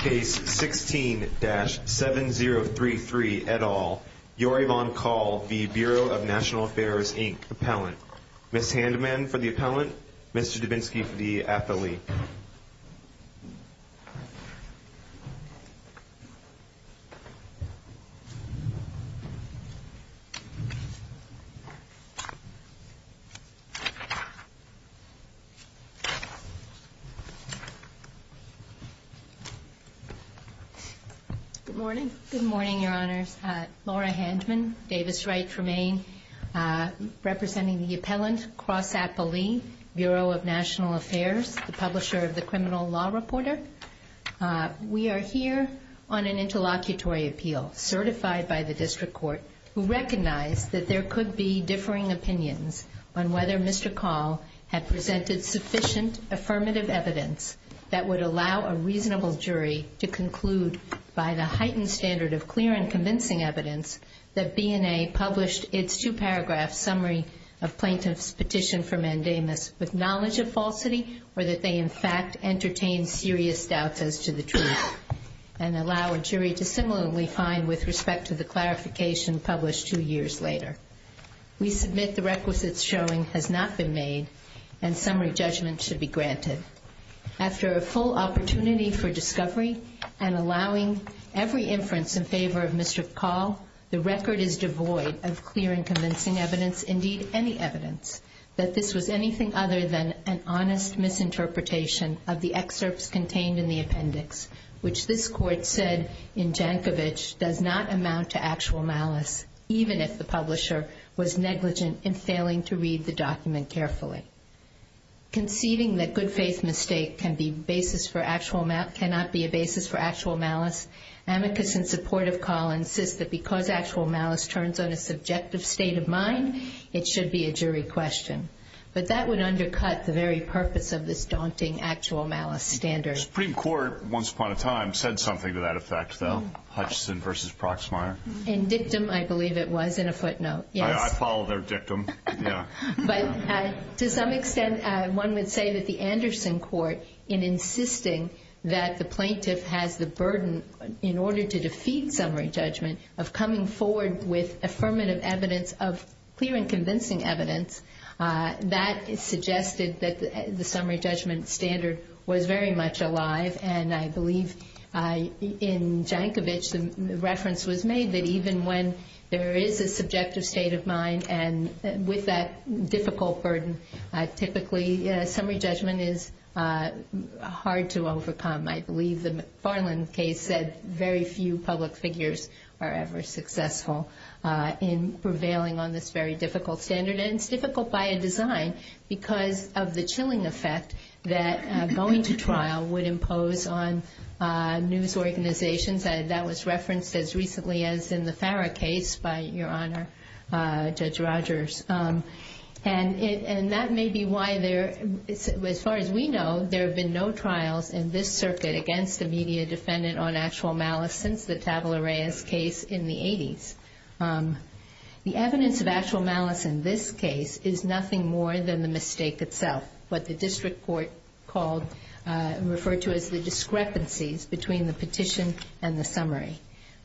Case 16-7033, et al. Yorie Von Kahl v. Bureau of National Affairs, Inc. Appellant Ms. Handeman for the appellant. Mr. Dubinsky for the athlete. Good morning. Good morning, Your Honors. Laura Handeman, Davis-Wright for Maine. Representing the appellant, Cross Appellee, Bureau of National Affairs, the publisher of the Criminal Law Reporter. We are here on an interlocutory appeal, certified by the district court, who recognized that there could be differing opinions on whether Mr. Kahl had presented sufficient affirmative evidence that would allow a reasonable jury to conclude, by the heightened standard of clear and convincing evidence, that BNA published its two-paragraph summary of plaintiff's petition for mandamus with knowledge of falsity, or that they in fact entertained serious doubts as to the truth, and allow a jury to similarly find with respect to the clarification published two years later. We submit the requisites showing has not been made and summary judgment should be granted. After a full opportunity for discovery and allowing every inference in favor of Mr. Kahl, the record is devoid of clear and convincing evidence, indeed any evidence, that this was anything other than an honest misinterpretation of the excerpts contained in the appendix, which this court said in Jankovich does not amount to actual malice, even if the publisher was negligent in failing to read the document carefully. Conceding that good faith mistake cannot be a basis for actual malice, amicus in support of Kahl insists that because actual malice turns on a subjective state of mind, it should be a jury question. But that would undercut the very purpose of this daunting actual malice standard. Supreme Court, once upon a time, said something to that effect, though. Hutchison v. Proxmire. In dictum, I believe it was, in a footnote. I follow their dictum. But to some extent, one would say that the Anderson court, in insisting that the plaintiff has the burden, in order to defeat summary judgment, of coming forward with affirmative evidence of clear and convincing evidence, that suggested that the summary judgment standard was very much alive, and I believe in Jankovich the reference was made that even when there is a subjective state of mind and with that difficult burden, typically summary judgment is hard to overcome. I believe the McFarland case said very few public figures are ever successful in prevailing on this very difficult standard, and it's difficult by a design because of the chilling effect that going to trial would impose on news organizations. That was referenced as recently as in the FARA case by Your Honor, Judge Rogers. And that may be why there, as far as we know, there have been no trials in this circuit against a media defendant on actual malice since the Tavela-Reyes case in the 80s. The evidence of actual malice in this case is nothing more than the mistake itself, what the district court called, referred to as the discrepancies between the petition and the summary.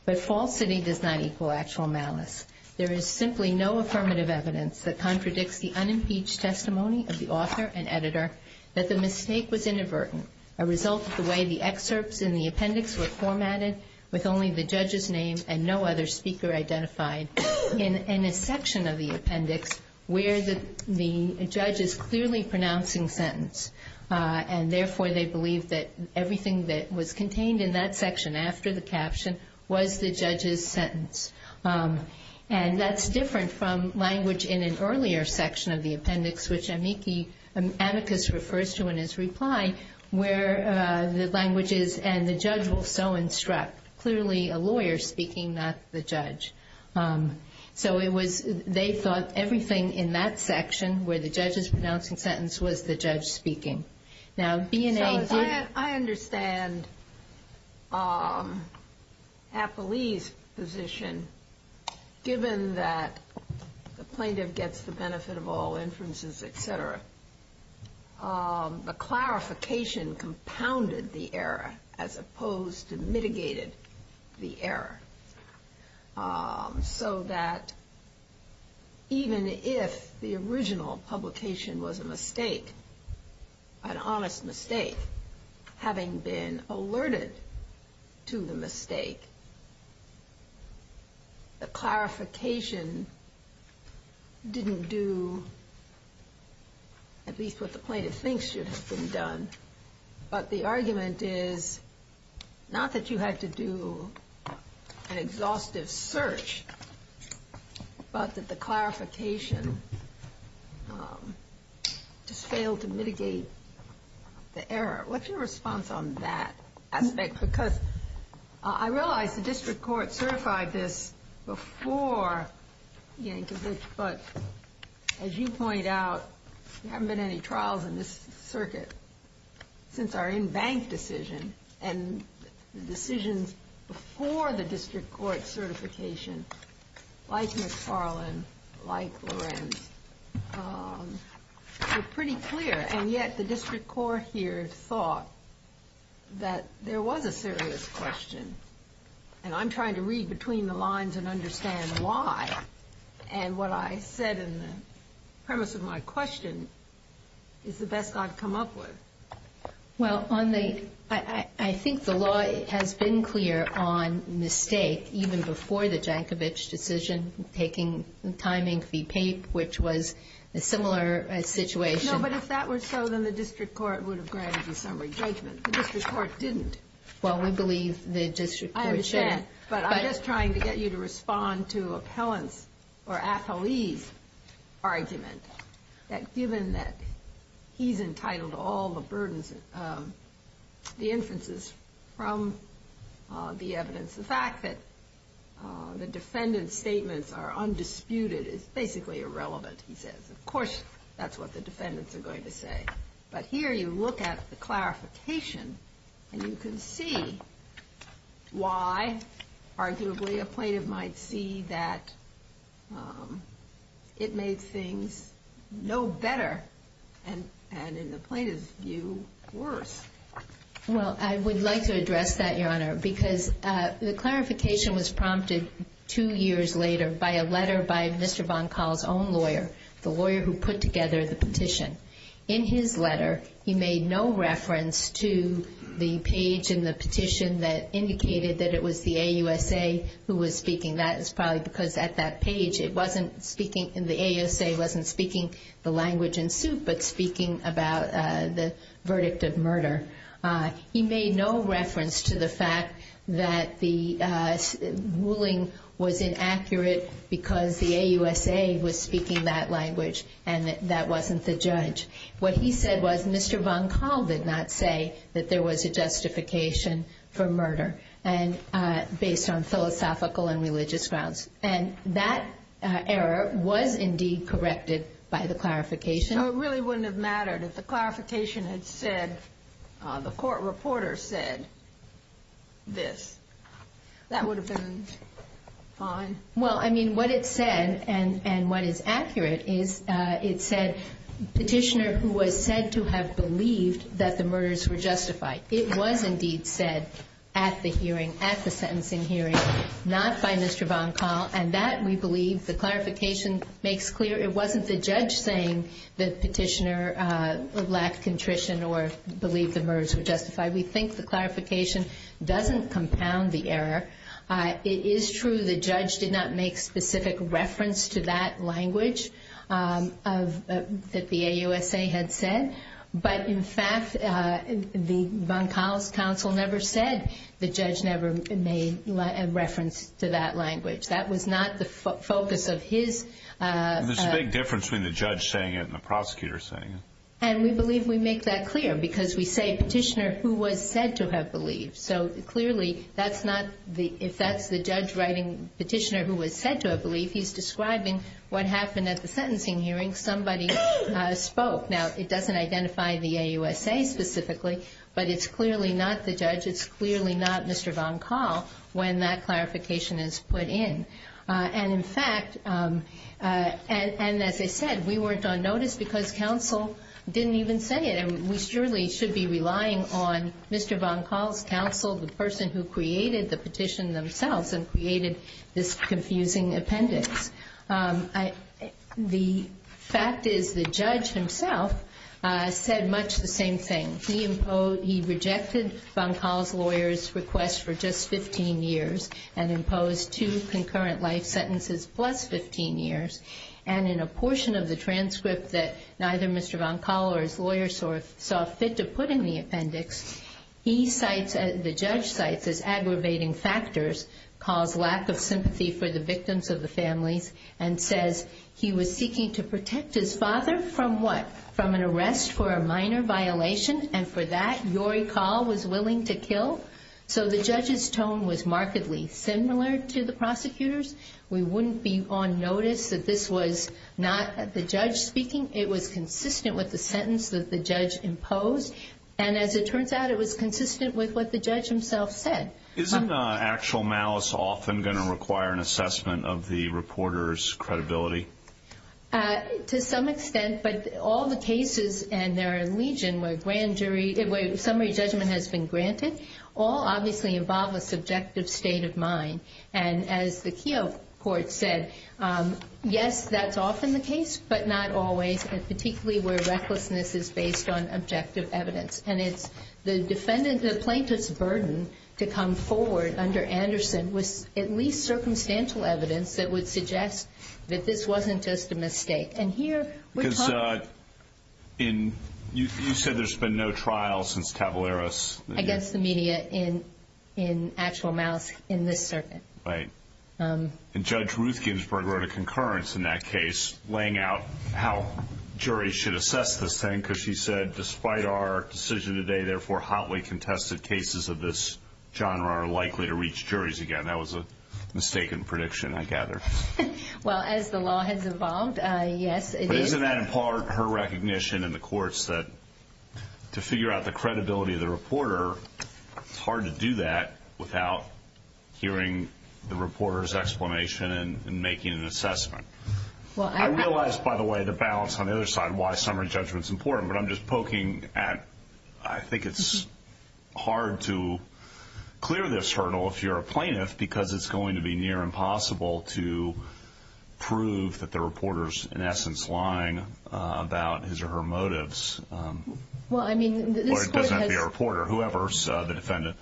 But falsity does not equal actual malice. There is simply no affirmative evidence that contradicts the unimpeached testimony of the author and editor that the mistake was inadvertent, a result of the way the excerpts in the appendix were formatted with only the judge's name and no other speaker identified in a section of the appendix where the judge is clearly pronouncing sentence, and therefore they believe that everything that was contained in that section after the caption was the judge's sentence. And that's different from language in an earlier section of the appendix, which Amicus refers to in his reply, where the language is, and the judge will so instruct, clearly a lawyer speaking, not the judge. So they thought everything in that section where the judge is pronouncing sentence was the judge speaking. Now, B&A did it. So I understand Apolli's position, given that the plaintiff gets the benefit of all inferences, et cetera, the clarification compounded the error as opposed to mitigated the error, so that even if the original publication was a mistake, an honest mistake, having been alerted to the mistake, the clarification didn't do at least what the plaintiff thinks should have been done. But the argument is not that you had to do an exhaustive search, but that the clarification just failed to mitigate the error. What's your response on that aspect? Because I realize the district court certified this before Yankovic, but as you point out, there haven't been any trials in this circuit since our in-bank decision, and the decisions before the district court certification, like McFarland, like Lorenz, were pretty clear, and yet the district court here thought that there was a serious question, and I'm trying to read between the lines and understand why, and what I said in the premise of my question is the best I've come up with. Well, on the — I think the law has been clear on mistake, even before the Yankovic decision, taking the timing, v. Pape, which was a similar situation. No, but if that were so, then the district court would have granted you summary judgment. The district court didn't. Well, we believe the district court should have. I understand, but I'm just trying to get you to respond to Appellant's, or Athalee's, argument, that given that he's entitled to all the burdens, the inferences from the evidence, the fact that the defendant's statements are undisputed is basically irrelevant, he says. Of course, that's what the defendants are going to say. But here you look at the clarification, and you can see why, arguably, a plaintiff might see that it made things no better and, in the plaintiff's view, worse. Well, I would like to address that, Your Honor, because the clarification was prompted two years later by a letter by Mr. Von Kahl's own lawyer, the lawyer who put together the petition. In his letter, he made no reference to the page in the petition that indicated that it was the AUSA who was speaking. That is probably because at that page, it wasn't speaking, the AUSA wasn't speaking the language in suit but speaking about the verdict of murder. He made no reference to the fact that the ruling was inaccurate because the AUSA was speaking that language and that that wasn't the judge. What he said was Mr. Von Kahl did not say that there was a justification for murder, based on philosophical and religious grounds. And that error was indeed corrected by the clarification. So it really wouldn't have mattered if the clarification had said, the court reporter said this. That would have been fine? Well, I mean, what it said and what is accurate is it said, petitioner who was said to have believed that the murders were justified. It was indeed said at the hearing, at the sentencing hearing, not by Mr. Von Kahl. And that, we believe, the clarification makes clear. It wasn't the judge saying the petitioner lacked contrition or believed the murders were justified. We think the clarification doesn't compound the error. It is true the judge did not make specific reference to that language that the AUSA had said. But, in fact, the Von Kahl's counsel never said the judge never made reference to that language. That was not the focus of his. There's a big difference between the judge saying it and the prosecutor saying it. And we believe we make that clear because we say, petitioner who was said to have believed. So, clearly, that's not the, if that's the judge writing petitioner who was said to have believed, he's describing what happened at the sentencing hearing. Somebody spoke. Now, it doesn't identify the AUSA specifically, but it's clearly not the judge. It's clearly not Mr. Von Kahl when that clarification is put in. And, in fact, and as I said, we weren't on notice because counsel didn't even say it. And we surely should be relying on Mr. Von Kahl's counsel, the person who created the petition themselves and created this confusing appendix. The fact is the judge himself said much the same thing. He imposed, he rejected Von Kahl's lawyer's request for just 15 years and imposed two concurrent life sentences plus 15 years. And in a portion of the transcript that neither Mr. Von Kahl or his lawyer saw fit to put in the appendix, he cites, the judge cites as aggravating factors, Kahl's lack of sympathy for the victims of the families, and says he was seeking to protect his father from what? From an arrest for a minor violation, and for that, Yori Kahl was willing to kill? So the judge's tone was markedly similar to the prosecutor's. We wouldn't be on notice that this was not the judge speaking. It was consistent with the sentence that the judge imposed. And as it turns out, it was consistent with what the judge himself said. Isn't actual malice often going to require an assessment of the reporter's credibility? To some extent, but all the cases and their allegiance where grand jury, where summary judgment has been granted, all obviously involve a subjective state of mind. And as the Keough court said, yes, that's often the case, but not always, particularly where recklessness is based on objective evidence. And it's the defendant, the plaintiff's burden to come forward under Anderson was at least circumstantial evidence that would suggest that this wasn't just a mistake. And here, we're talking. Because you said there's been no trial since Cavalleros. Against the media in actual malice in this circuit. Right. And Judge Ruth Ginsburg wrote a concurrence in that case, laying out how juries should assess this thing because she said, despite our decision today, therefore, hotly contested cases of this genre are likely to reach juries again. That was a mistaken prediction, I gather. Well, as the law has evolved, yes, it is. But isn't that, in part, her recognition in the courts that to figure out the credibility of the reporter, it's hard to do that without hearing the reporter's explanation and making an assessment. I realize, by the way, the balance on the other side, why summary judgment's important, but I'm just poking at, I think it's hard to clear this hurdle if you're a plaintiff because it's going to be near impossible to prove that the reporter's, in essence, lying about his or her motives. Well, I mean, this court has – Or it doesn't have to be a reporter, whoever's the defendant.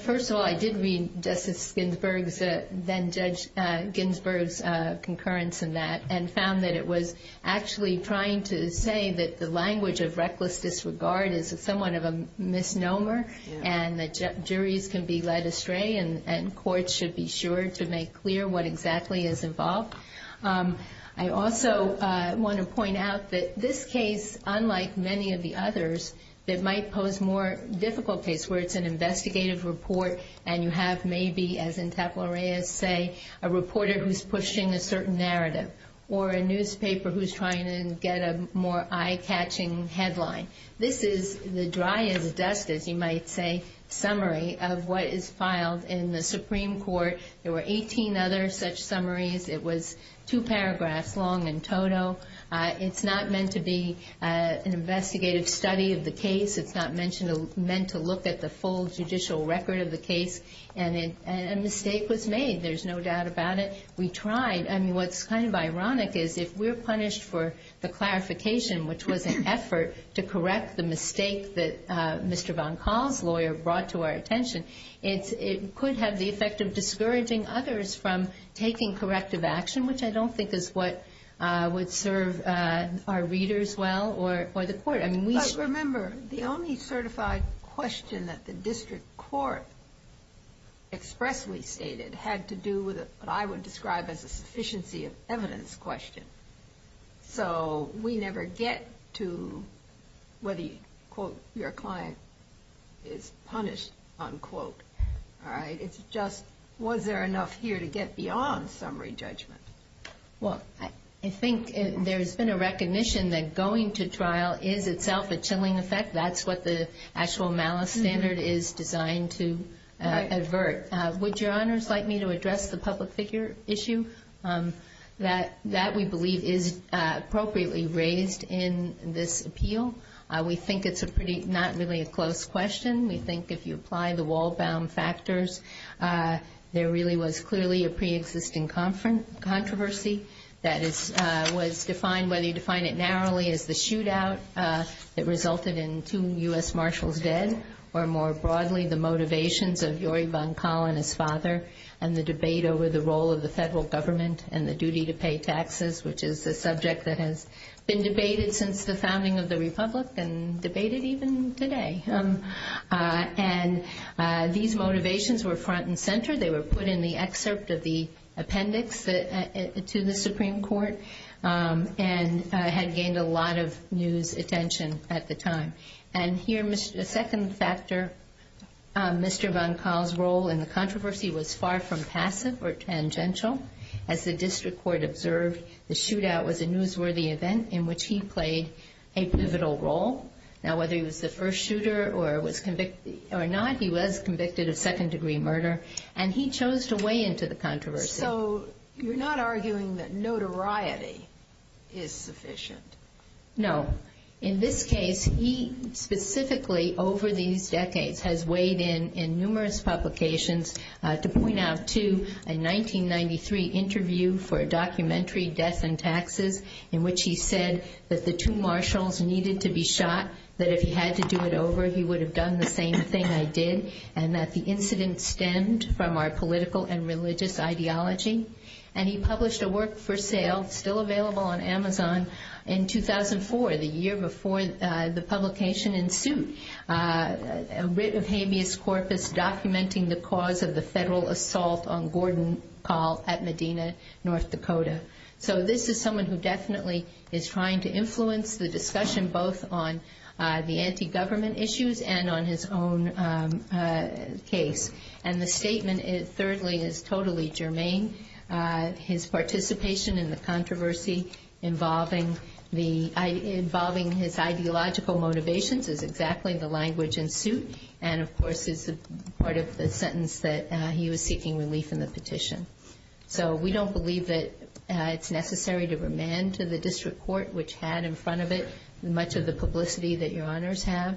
First of all, I did read Justice Ginsburg's, then-Judge Ginsburg's concurrence in that and found that it was actually trying to say that the language of reckless disregard is somewhat of a misnomer and that juries can be led astray and courts should be sure to make clear what exactly is involved. I also want to point out that this case, unlike many of the others, that might pose more difficult case where it's an investigative report and you have maybe, as in Taplerea's say, a reporter who's pushing a certain narrative or a newspaper who's trying to get a more eye-catching headline. This is the dry-as-dust, as you might say, summary of what is filed in the Supreme Court. There were 18 other such summaries. It was two paragraphs long in total. It's not meant to be an investigative study of the case. It's not meant to look at the full judicial record of the case. And a mistake was made. There's no doubt about it. We tried. I mean, what's kind of ironic is if we're punished for the clarification, which was an effort to correct the mistake that Mr. von Kahl's lawyer brought to our attention, it could have the effect of discouraging others from taking corrective action, which I don't think is what would serve our readers well or the court. But remember, the only certified question that the district court expressly stated had to do with what I would describe as a sufficiency of evidence question. So we never get to whether, quote, your client is punished, unquote. All right? It's just was there enough here to get beyond summary judgment. Well, I think there's been a recognition that going to trial is itself a chilling effect. That's what the actual malice standard is designed to advert. Would Your Honors like me to address the public figure issue? That we believe is appropriately raised in this appeal. We think it's not really a close question. We think if you apply the wall-bound factors, there really was clearly a preexisting controversy that was defined, whether you define it narrowly as the shootout that resulted in two U.S. Marshals dead, or more broadly the motivations of Yuri von Kahl and his father and the debate over the role of the federal government and the duty to pay taxes, which is a subject that has been debated since the founding of the republic and debated even today. And these motivations were front and center. They were put in the excerpt of the appendix to the Supreme Court and had gained a lot of news attention at the time. And here a second factor, Mr. von Kahl's role in the controversy was far from passive or tangential. As the district court observed, the shootout was a newsworthy event in which he played a pivotal role. Now, whether he was the first shooter or not, he was convicted of second-degree murder, and he chose to weigh into the controversy. So you're not arguing that notoriety is sufficient? No. In this case, he specifically over these decades has weighed in in numerous publications to point out to a 1993 interview for a documentary, Death and Taxes, in which he said that the two Marshals needed to be shot, that if he had to do it over he would have done the same thing I did, and that the incident stemmed from our political and religious ideology. And he published a work for sale, still available on Amazon, in 2004, the year before the publication ensued, a writ of habeas corpus documenting the cause of the federal assault on Gordon Kahl at Medina, North Dakota. So this is someone who definitely is trying to influence the discussion both on the anti-government issues and on his own case. And the statement, thirdly, is totally germane. His participation in the controversy involving his ideological motivations is exactly the language in suit, and, of course, is part of the sentence that he was seeking relief in the petition. So we don't believe that it's necessary to remand to the district court, which had in front of it much of the publicity that your honors have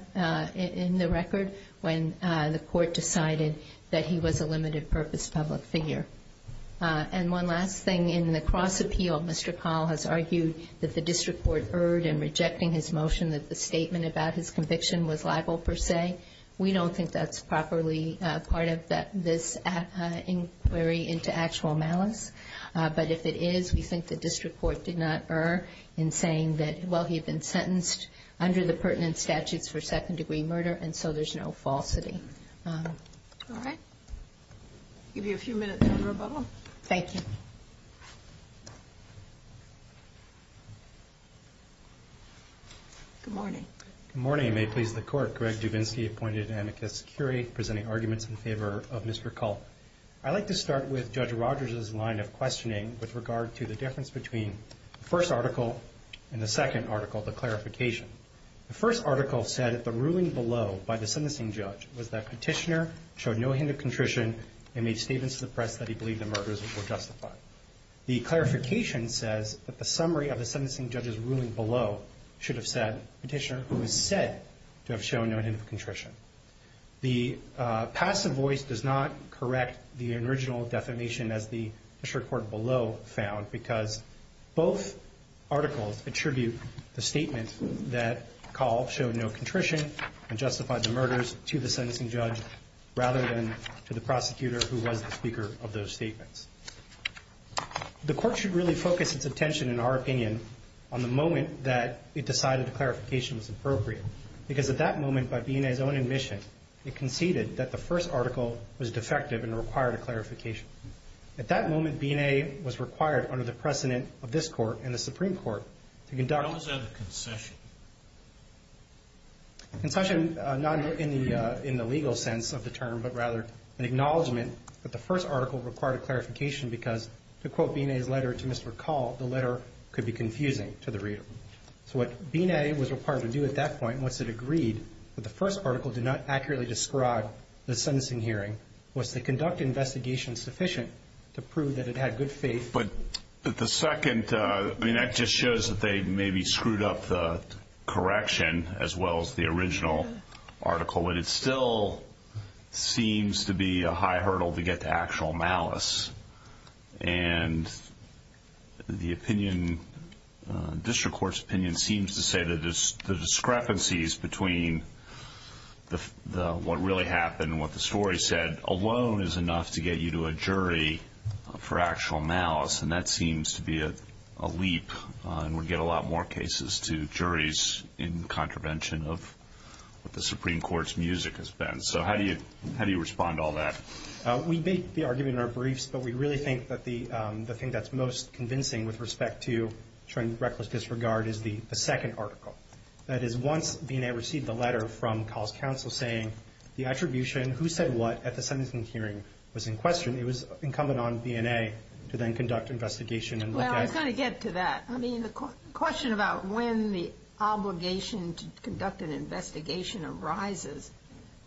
in the record, when the court decided that he was a limited-purpose public figure. And one last thing. In the cross-appeal, Mr. Kahl has argued that the district court erred in rejecting his motion, that the statement about his conviction was libel, per se. We don't think that's properly part of this inquiry into actual malice. But if it is, we think the district court did not err in saying that, well, he had been sentenced under the pertinent statutes for second-degree murder, and so there's no falsity. All right. I'll give you a few minutes in rebuttal. Thank you. Good morning. Good morning, and may it please the Court. Greg Dubinsky, appointed amicus curiae, presenting arguments in favor of Mr. Kahl. I'd like to start with Judge Rogers' line of questioning with regard to the difference between the first article and the second article, the clarification. The first article said that the ruling below by the sentencing judge was that Petitioner showed no hint of contrition and made statements to the press that he believed the murders were justified. The clarification says that the summary of the sentencing judge's ruling below should have said Petitioner, who is said to have shown no hint of contrition. The passive voice does not correct the original defamation, as the district court below found, because both articles attribute the statement that Kahl showed no contrition and justified the murders to the sentencing judge rather than to the prosecutor who was the speaker of those statements. The Court should really focus its attention, in our opinion, on the moment that it decided the clarification was appropriate, because at that moment, by B&A's own admission, it conceded that the first article was defective and required a clarification. At that moment, B&A was required, under the precedent of this Court and the Supreme Court, to conduct a concession. Concession, not in the legal sense of the term, but rather an acknowledgment that the first article required a clarification because, to quote B&A's letter to Mr. Kahl, the letter could be confusing to the reader. So what B&A was required to do at that point, once it agreed that the first article did not accurately describe the sentencing hearing, was to conduct an investigation sufficient to prove that it had good faith. But the second, I mean, that just shows that they maybe screwed up the correction as well as the original article, but it still seems to be a high hurdle to get to actual malice. And the opinion, district court's opinion, seems to say that the discrepancies between what really happened and what the story said alone is enough to get you to a jury for actual malice, and that seems to be a leap and would get a lot more cases to juries in contravention of what the Supreme Court's music has been. So how do you respond to all that? We make the argument in our briefs, but we really think that the thing that's most convincing with respect to showing reckless disregard is the second article. That is, once B&A received the letter from Kahl's counsel saying the attribution, who said what, at the sentencing hearing was in question, it was incumbent on B&A to then conduct an investigation and look at it. Well, I was going to get to that. I mean, the question about when the obligation to conduct an investigation arises,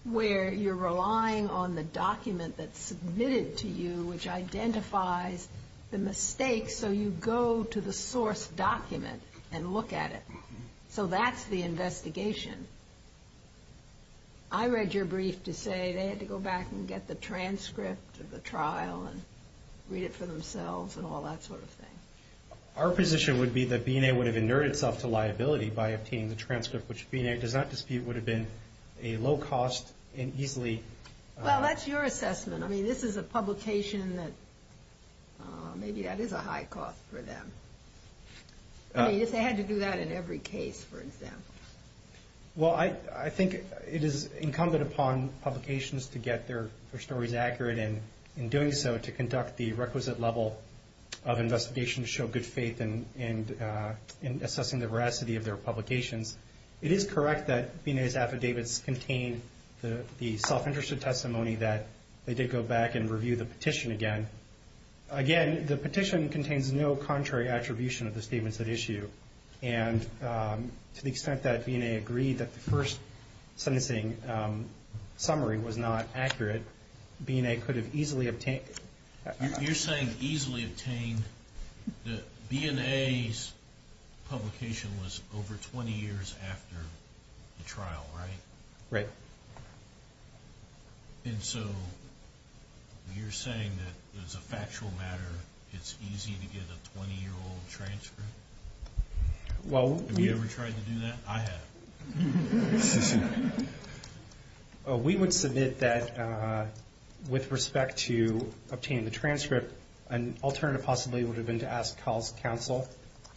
where you're relying on the document that's submitted to you, which identifies the mistakes, so you go to the source document and look at it. So that's the investigation. I read your brief to say they had to go back and get the transcript of the trial and read it for themselves and all that sort of thing. Our position would be that B&A would have inerted itself to liability by obtaining the transcript, which B&A does not dispute would have been a low cost and easily. Well, that's your assessment. I mean, this is a publication that maybe that is a high cost for them. I mean, if they had to do that in every case, for example. Well, I think it is incumbent upon publications to get their stories accurate, and in doing so to conduct the requisite level of investigation to show good faith in assessing the veracity of their publications. It is correct that B&A's affidavits contain the self-interested testimony that they did go back and review the petition again. Again, the petition contains no contrary attribution of the statements at issue. And to the extent that B&A agreed that the first sentencing summary was not accurate, B&A could have easily obtained. You're saying easily obtained. B&A's publication was over 20 years after the trial, right? Right. And so you're saying that, as a factual matter, it's easy to get a 20-year-old transcript? Have you ever tried to do that? I have. We would submit that, with respect to obtaining the transcript, an alternative possibly would have been to ask Kyle's counsel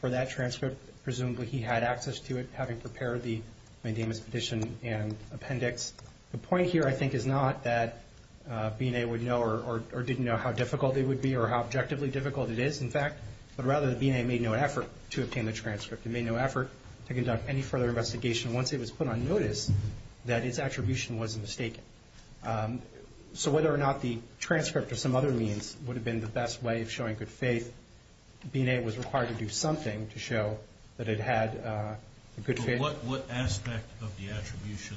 for that transcript. Presumably he had access to it, having prepared the mandamus petition and appendix. The point here, I think, is not that B&A would know or didn't know how difficult it would be or how objectively difficult it is, in fact, but rather that B&A made no effort to obtain the transcript. It made no effort to conduct any further investigation once it was put on notice that its attribution was mistaken. So whether or not the transcript or some other means would have been the best way of showing good faith, B&A was required to do something to show that it had good faith. What aspect of the attribution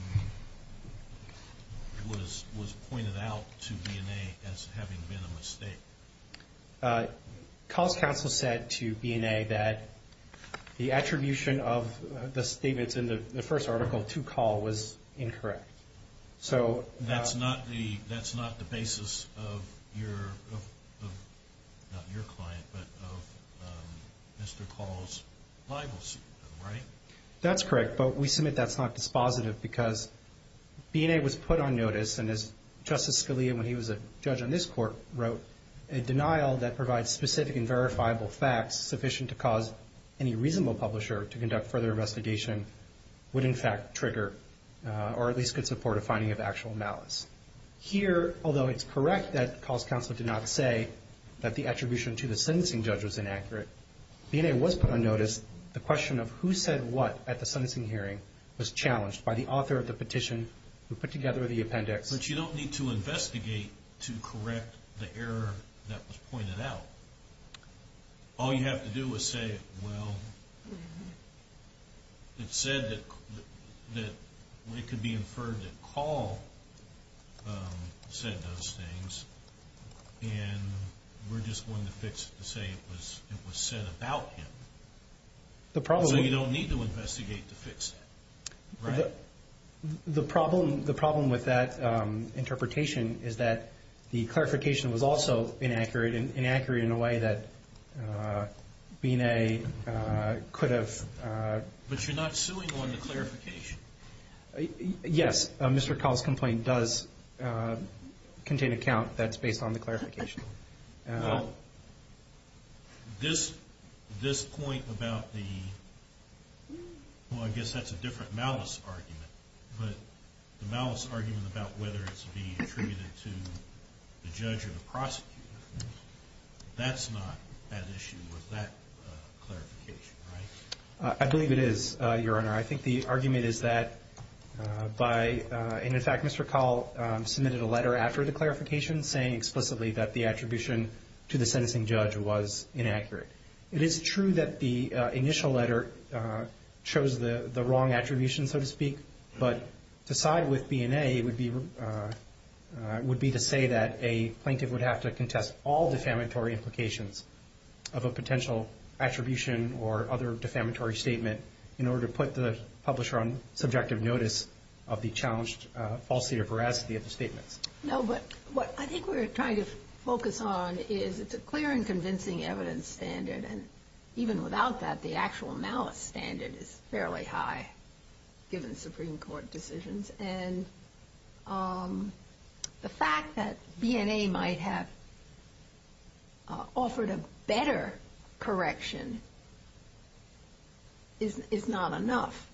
was pointed out to B&A as having been a mistake? Kyle's counsel said to B&A that the attribution of the statements in the first article to Kyle was incorrect. That's not the basis of your client, but of Mr. Kyle's libel suit, right? That's correct, but we submit that's not dispositive because B&A was put on notice, and as Justice Scalia, when he was a judge on this court, wrote, a denial that provides specific and verifiable facts sufficient to cause any reasonable publisher to conduct further investigation would, in fact, trigger or at least could support a finding of actual malice. Here, although it's correct that Kyle's counsel did not say that the attribution to the sentencing judge was inaccurate, B&A was put on notice. The question of who said what at the sentencing hearing was challenged by the author of the petition who put together the appendix. But you don't need to investigate to correct the error that was pointed out. All you have to do is say, well, it said that it could be inferred that Carl said those things, and we're just going to fix it to say it was said about him. So you don't need to investigate to fix that, right? The problem with that interpretation is that the clarification was also inaccurate and inaccurate in a way that B&A could have. But you're not suing on the clarification. Yes. Mr. Carl's complaint does contain a count that's based on the clarification. Well, this point about the ñ well, I guess that's a different malice argument. But the malice argument about whether it's being attributed to the judge or the prosecutor, that's not at issue with that clarification, right? I believe it is, Your Honor. I think the argument is that by ñ and, in fact, Mr. Carl submitted a letter after the clarification saying explicitly that the attribution to the sentencing judge was inaccurate. It is true that the initial letter chose the wrong attribution, so to speak, but to side with B&A would be to say that a plaintiff would have to contest all defamatory implications of a potential attribution or other defamatory statement in order to put the publisher on subjective notice of the challenged falsity or veracity of the statements. No, but what I think we're trying to focus on is it's a clear and convincing evidence standard, and even without that, the actual malice standard is fairly high given Supreme Court decisions. And the fact that B&A might have offered a better correction is not enough.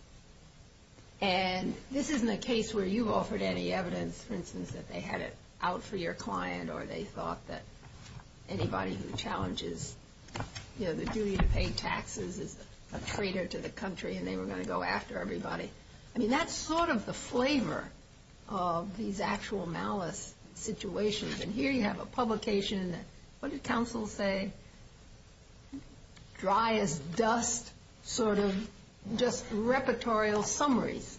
And this isn't a case where you offered any evidence, for instance, that they had it out for your client or they thought that anybody who challenges, you know, the duty to pay taxes is a traitor to the country and they were going to go after everybody. I mean, that's sort of the flavor of these actual malice situations. And here you have a publication and what did counsel say? Dry as dust sort of just repertorial summaries.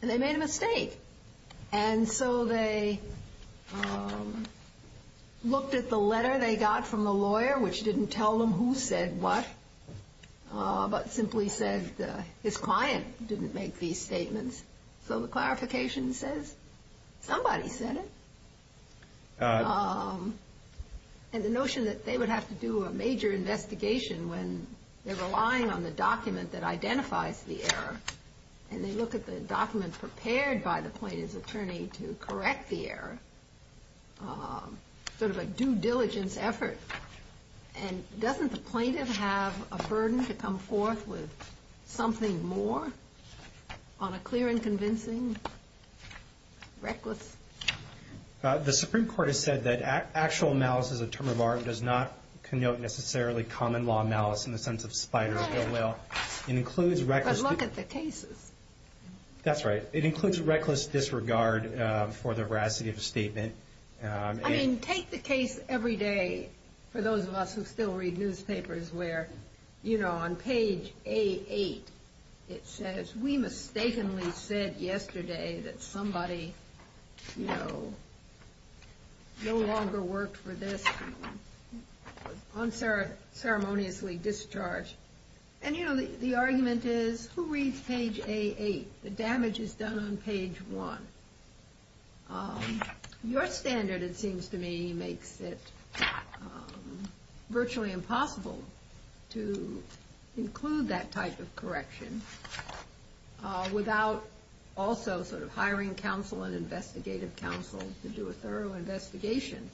And they made a mistake. And so they looked at the letter they got from the lawyer, which didn't tell them who said what, but simply said his client didn't make these statements. So the clarification says somebody said it. And the notion that they would have to do a major investigation when they're relying on the document that identifies the error, and they look at the document prepared by the plaintiff's attorney to correct the error, sort of a due diligence effort. And doesn't the plaintiff have a burden to come forth with something more on a clear and convincing, reckless? The Supreme Court has said that actual malice is a term of art and does not connote necessarily common law malice in the sense of spider or gill whale. But look at the cases. That's right. I mean, take the case every day. For those of us who still read newspapers where, you know, on page A8 it says, we mistakenly said yesterday that somebody, you know, no longer worked for this, was unceremoniously discharged. And, you know, the argument is who reads page A8? The damage is done on page 1. Your standard, it seems to me, makes it virtually impossible to include that type of correction without also sort of hiring counsel and investigative counsel to do a thorough investigation.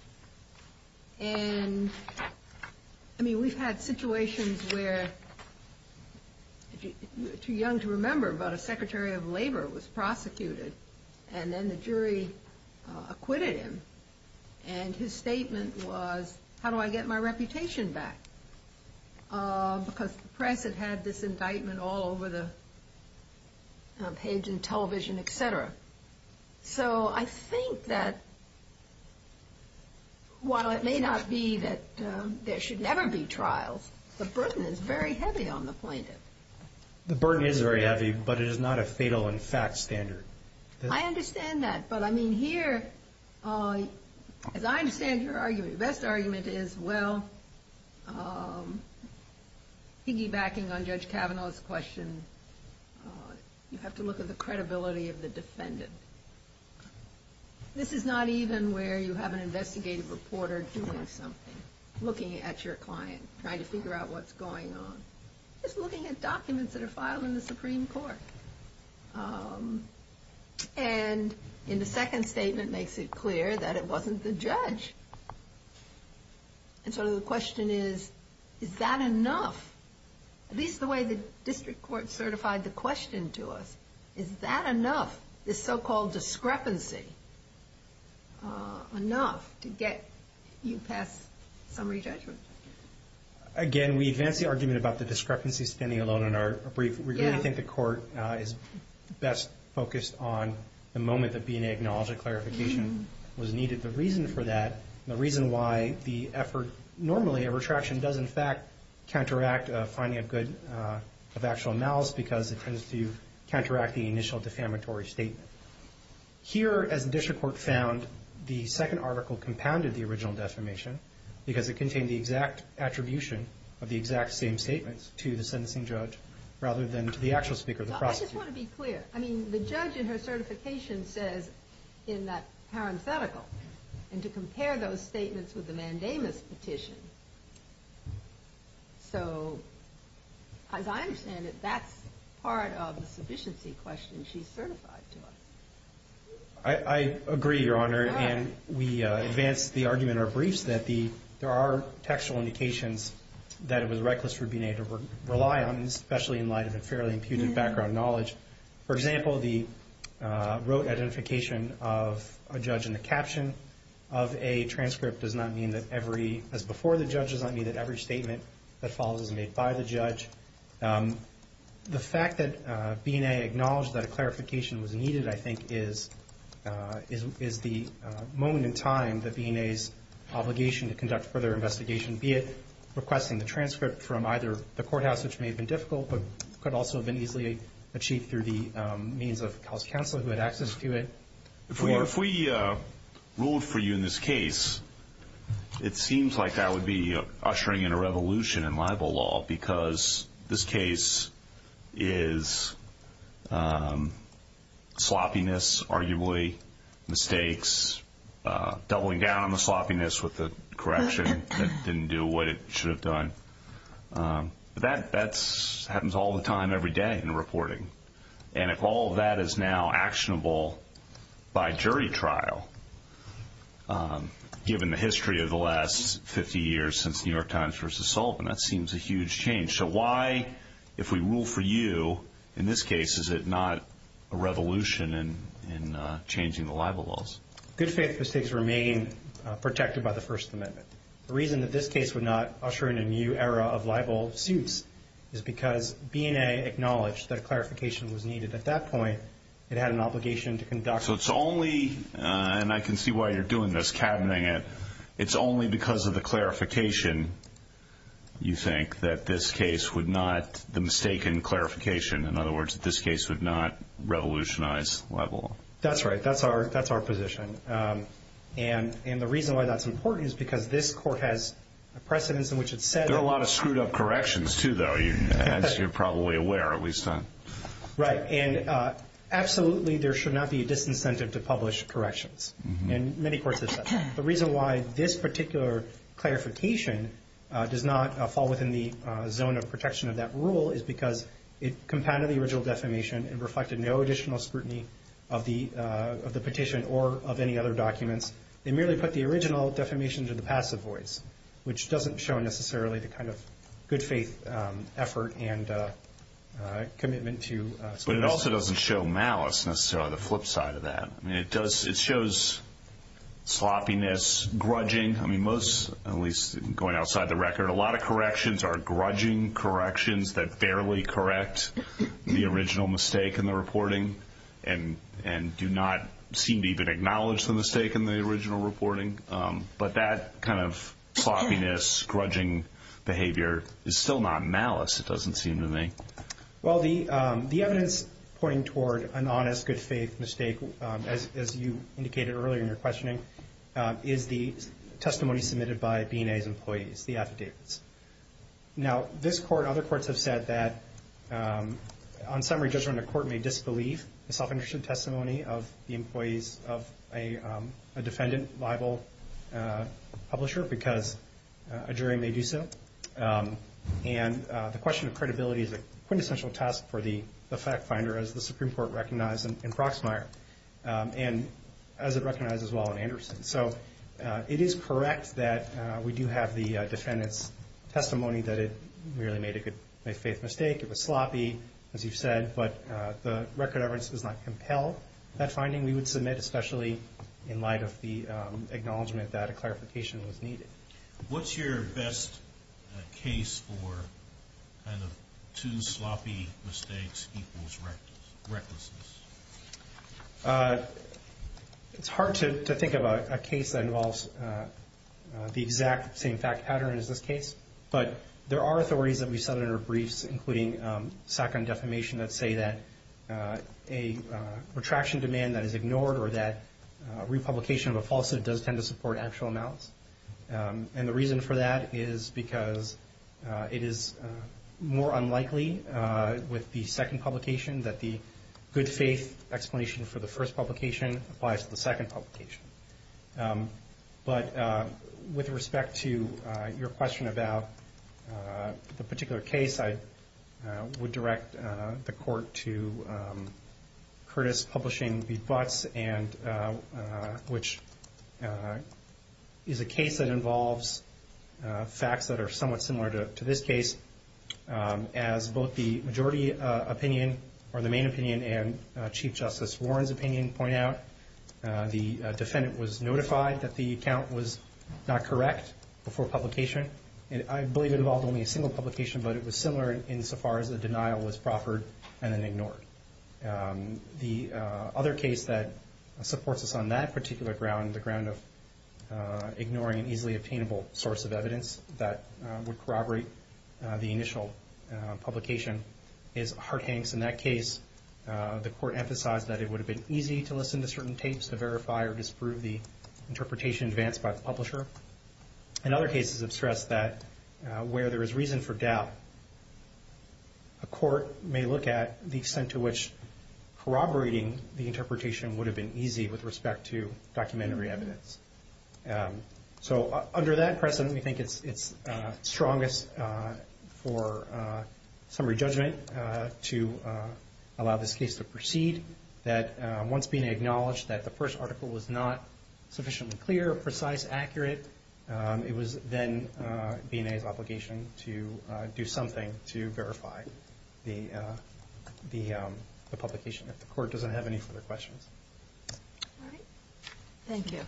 And, I mean, we've had situations where, too young to remember, but a secretary of labor was prosecuted, and then the jury acquitted him, and his statement was, how do I get my reputation back? Because the press had had this indictment all over the page in television, et cetera. So I think that while it may not be that there should never be trials, the burden is very heavy on the plaintiff. The burden is very heavy, but it is not a fatal in fact standard. I understand that, but, I mean, here, as I understand your argument, your best argument is, well, piggybacking on Judge Kavanaugh's question, you have to look at the credibility of the defendant. This is not even where you have an investigative reporter doing something, looking at your client, trying to figure out what's going on. It's looking at documents that are filed in the Supreme Court. And in the second statement makes it clear that it wasn't the judge. And so the question is, is that enough? At least the way the district court certified the question to us, is that enough, this so-called discrepancy, enough to get you past summary judgment? Again, we advance the argument about the discrepancy standing alone in our brief. We really think the court is best focused on the moment that B&A acknowledges clarification was needed. The reason for that, the reason why the effort normally of retraction does in fact counteract a finding of good, of actual malice, because it tends to counteract the initial defamatory statement. Here, as the district court found, the second article compounded the original defamation because it contained the exact attribution of the exact same statements to the sentencing judge rather than to the actual speaker, the prosecutor. I just want to be clear. I mean, the judge in her certification says in that parenthetical, and to compare those statements with the mandamus petition. So, as I understand it, that's part of the sufficiency question she certified to us. I agree, Your Honor. And we advance the argument in our briefs that there are textual indications that it was reckless for B&A to rely on, especially in light of a fairly impugnant background knowledge. For example, the rote identification of a judge in the caption of a transcript does not mean that every, as before the judge, does not mean that every statement that follows is made by the judge. The fact that B&A acknowledged that a clarification was needed, I think, is the moment in time that B&A's obligation to conduct further investigation, be it requesting the transcript from either the courthouse, which may have been difficult, but could also have been easily achieved through the means of a counselor who had access to it. If we ruled for you in this case, it seems like that would be ushering in a revolution in libel law because this case is sloppiness, arguably, mistakes, doubling down on the sloppiness with the correction that didn't do what it should have done. That happens all the time every day in reporting. And if all of that is now actionable by jury trial, given the history of the last 50 years since New York Times versus Sullivan, that seems a huge change. So why, if we rule for you in this case, is it not a revolution in changing the libel laws? Good faith mistakes remain protected by the First Amendment. The reason that this case would not usher in a new era of libel suits is because B&A acknowledged that a clarification was needed at that point. It had an obligation to conduct. So it's only, and I can see why you're doing this, cabining it, it's only because of the clarification, you think, that this case would not, the mistaken clarification, in other words, that this case would not revolutionize libel law. That's right. That's our position. And the reason why that's important is because this court has a precedence in which it said that. There are a lot of screwed up corrections, too, though, as you're probably aware, at least. Right. And absolutely there should not be a disincentive to publish corrections. And many courts have said that. The reason why this particular clarification does not fall within the zone of protection of that rule is because it compounded the original defamation and reflected no additional scrutiny of the petition or of any other documents. It merely put the original defamation to the passive voice, which doesn't show necessarily the kind of good faith effort and commitment to. But it also doesn't show malice, necessarily, on the flip side of that. I mean, it does, it shows sloppiness, grudging. I mean, most, at least going outside the record, a lot of corrections are grudging corrections that barely correct the original mistake in the reporting and do not seem to even acknowledge the mistake in the original reporting. But that kind of sloppiness, grudging behavior is still not malice, it doesn't seem to me. Well, the evidence pointing toward an honest, good faith mistake, as you indicated earlier in your questioning, is the testimony submitted by B&A's employees, the affidavits. Now, this Court and other courts have said that, on summary judgment, a court may disbelieve the self-interested testimony of the employees of a defendant liable publisher because a jury may do so. And the question of credibility is a quintessential task for the fact finder, as the Supreme Court recognized in Proxmire, and as it recognizes well in Anderson. So it is correct that we do have the defendant's testimony that it merely made a good faith mistake, it was sloppy, as you've said, but the record of evidence does not compel that finding. We would submit, especially in light of the acknowledgement that a clarification was needed. What's your best case for kind of two sloppy mistakes equals recklessness? It's hard to think of a case that involves the exact same fact pattern as this case, but there are authorities that we saw in our briefs, including SACIM defamation, that say that a retraction demand that is ignored or that republication of a falsehood does tend to support actual amounts. And the reason for that is because it is more unlikely with the second publication that the good faith explanation for the first publication applies to the second publication. But with respect to your question about the particular case, I would direct the court to Curtis Publishing v. Butts, which is a case that involves facts that are somewhat similar to this case. As both the majority opinion or the main opinion and Chief Justice Warren's opinion point out, the defendant was notified that the account was not correct before publication. I believe it involved only a single publication, but it was similar insofar as the denial was proffered and then ignored. The other case that supports us on that particular ground, the ground of ignoring an easily obtainable source of evidence that would corroborate the initial publication, is Hart-Hanks. In that case, the court emphasized that it would have been easy to listen to certain tapes to verify or disprove the interpretation advanced by the publisher. And other cases have stressed that where there is reason for doubt, a court may look at the extent to which corroborating the interpretation would have been easy with respect to documentary evidence. So under that precedent, we think it's strongest for summary judgment to allow this case to proceed. Once BNA acknowledged that the first article was not sufficiently clear, precise, accurate, it was then BNA's obligation to do something to verify the publication if the court doesn't have any further questions. All right. Thank you.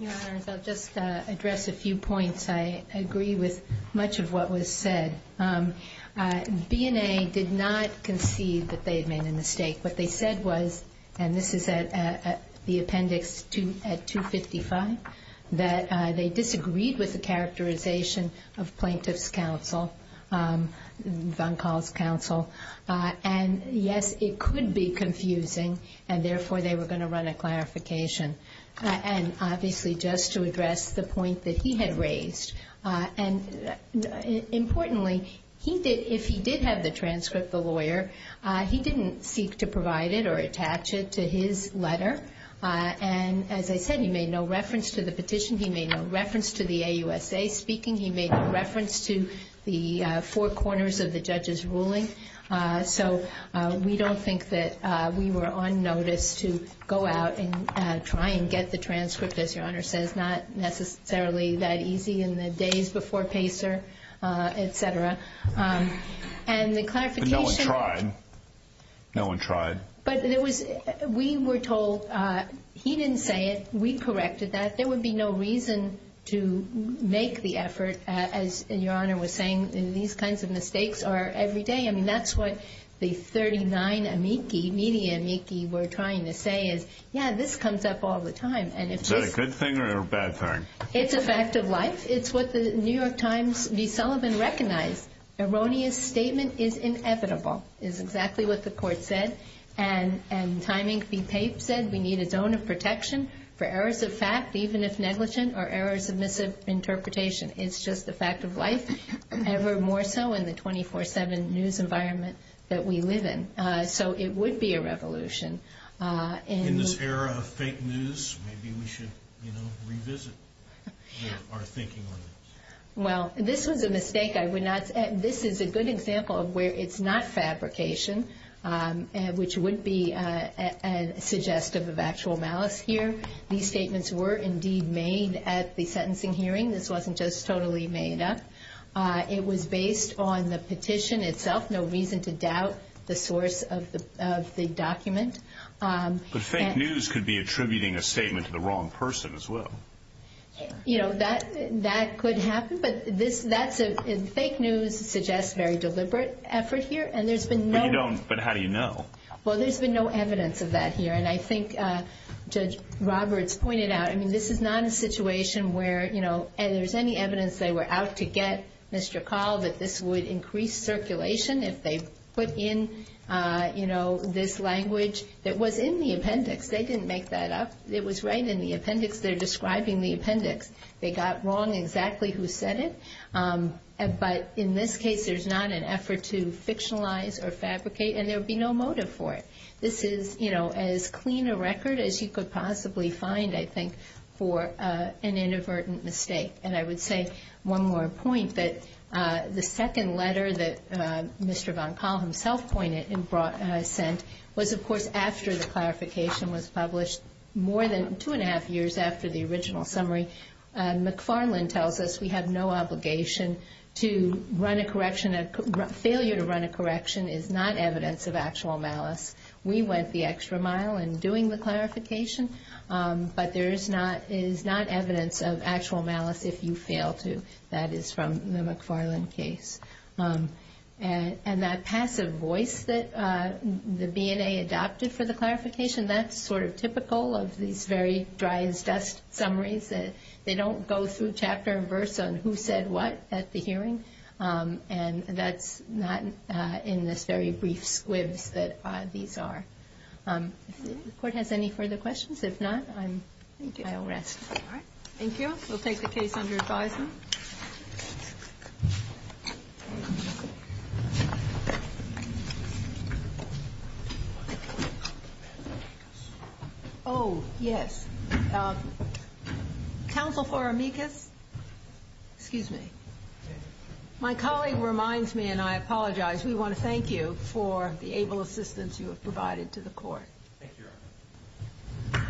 Your Honors, I'll just address a few points. I agree with much of what was said. BNA did not concede that they had made a mistake. What they said was, and this is at the appendix at 255, that they disagreed with the characterization of Plaintiff's Counsel, Van Kaal's Counsel, and yes, it could be confusing, and therefore, they were going to run a clarification. And obviously, just to address the point that he had raised, and importantly, if he did have the transcript, the lawyer, he didn't seek to provide it or attach it to his letter. And as I said, he made no reference to the petition. He made no reference to the AUSA speaking. He made no reference to the four corners of the judge's ruling. So we don't think that we were on notice to go out and try and get the transcript, as Your Honor says, not necessarily that easy in the days before Pacer, et cetera. And the clarification – But no one tried. No one tried. But we were told he didn't say it. We corrected that. There would be no reason to make the effort, as Your Honor was saying. These kinds of mistakes are every day. I mean, that's what the 39 amici, media amici, were trying to say is, yeah, this comes up all the time. Is that a good thing or a bad thing? It's a fact of life. It's what the New York Times, V. Sullivan, recognized. Erroneous statement is inevitable, is exactly what the court said. And Time, Inc. v. Pape said we need a zone of protection for errors of fact, even if negligent, or errors of misinterpretation. It's just a fact of life, ever more so in the 24-7 news environment that we live in. So it would be a revolution. In this era of fake news, maybe we should revisit our thinking on this. Well, this was a mistake. This is a good example of where it's not fabrication. Which would be suggestive of actual malice here. These statements were indeed made at the sentencing hearing. This wasn't just totally made up. It was based on the petition itself. No reason to doubt the source of the document. But fake news could be attributing a statement to the wrong person as well. You know, that could happen. But fake news suggests very deliberate effort here. But how do you know? Well, there's been no evidence of that here. And I think Judge Roberts pointed out, I mean, this is not a situation where, you know, there's any evidence they were out to get Mr. Call that this would increase circulation if they put in, you know, this language that was in the appendix. They didn't make that up. It was right in the appendix. They're describing the appendix. They got wrong exactly who said it. But in this case, there's not an effort to fictionalize or fabricate. And there would be no motive for it. This is, you know, as clean a record as you could possibly find, I think, for an inadvertent mistake. And I would say one more point, that the second letter that Mr. Von Call himself pointed and sent was, of course, after the clarification was published, more than two and a half years after the original summary. McFarland tells us we have no obligation to run a correction. Failure to run a correction is not evidence of actual malice. We went the extra mile in doing the clarification. But there is not evidence of actual malice if you fail to. That is from the McFarland case. And that passive voice that the BNA adopted for the clarification, that's sort of typical of these very dry-as-dust summaries. They don't go through chapter and verse on who said what at the hearing. And that's not in this very brief squibs that these are. If the Court has any further questions. If not, I'll rest. Thank you. We'll take the case under advisement. Oh, yes. Counsel for Amicus. Excuse me. My colleague reminds me, and I apologize, we want to thank you for the able assistance you have provided to the Court. Thank you, Your Honor.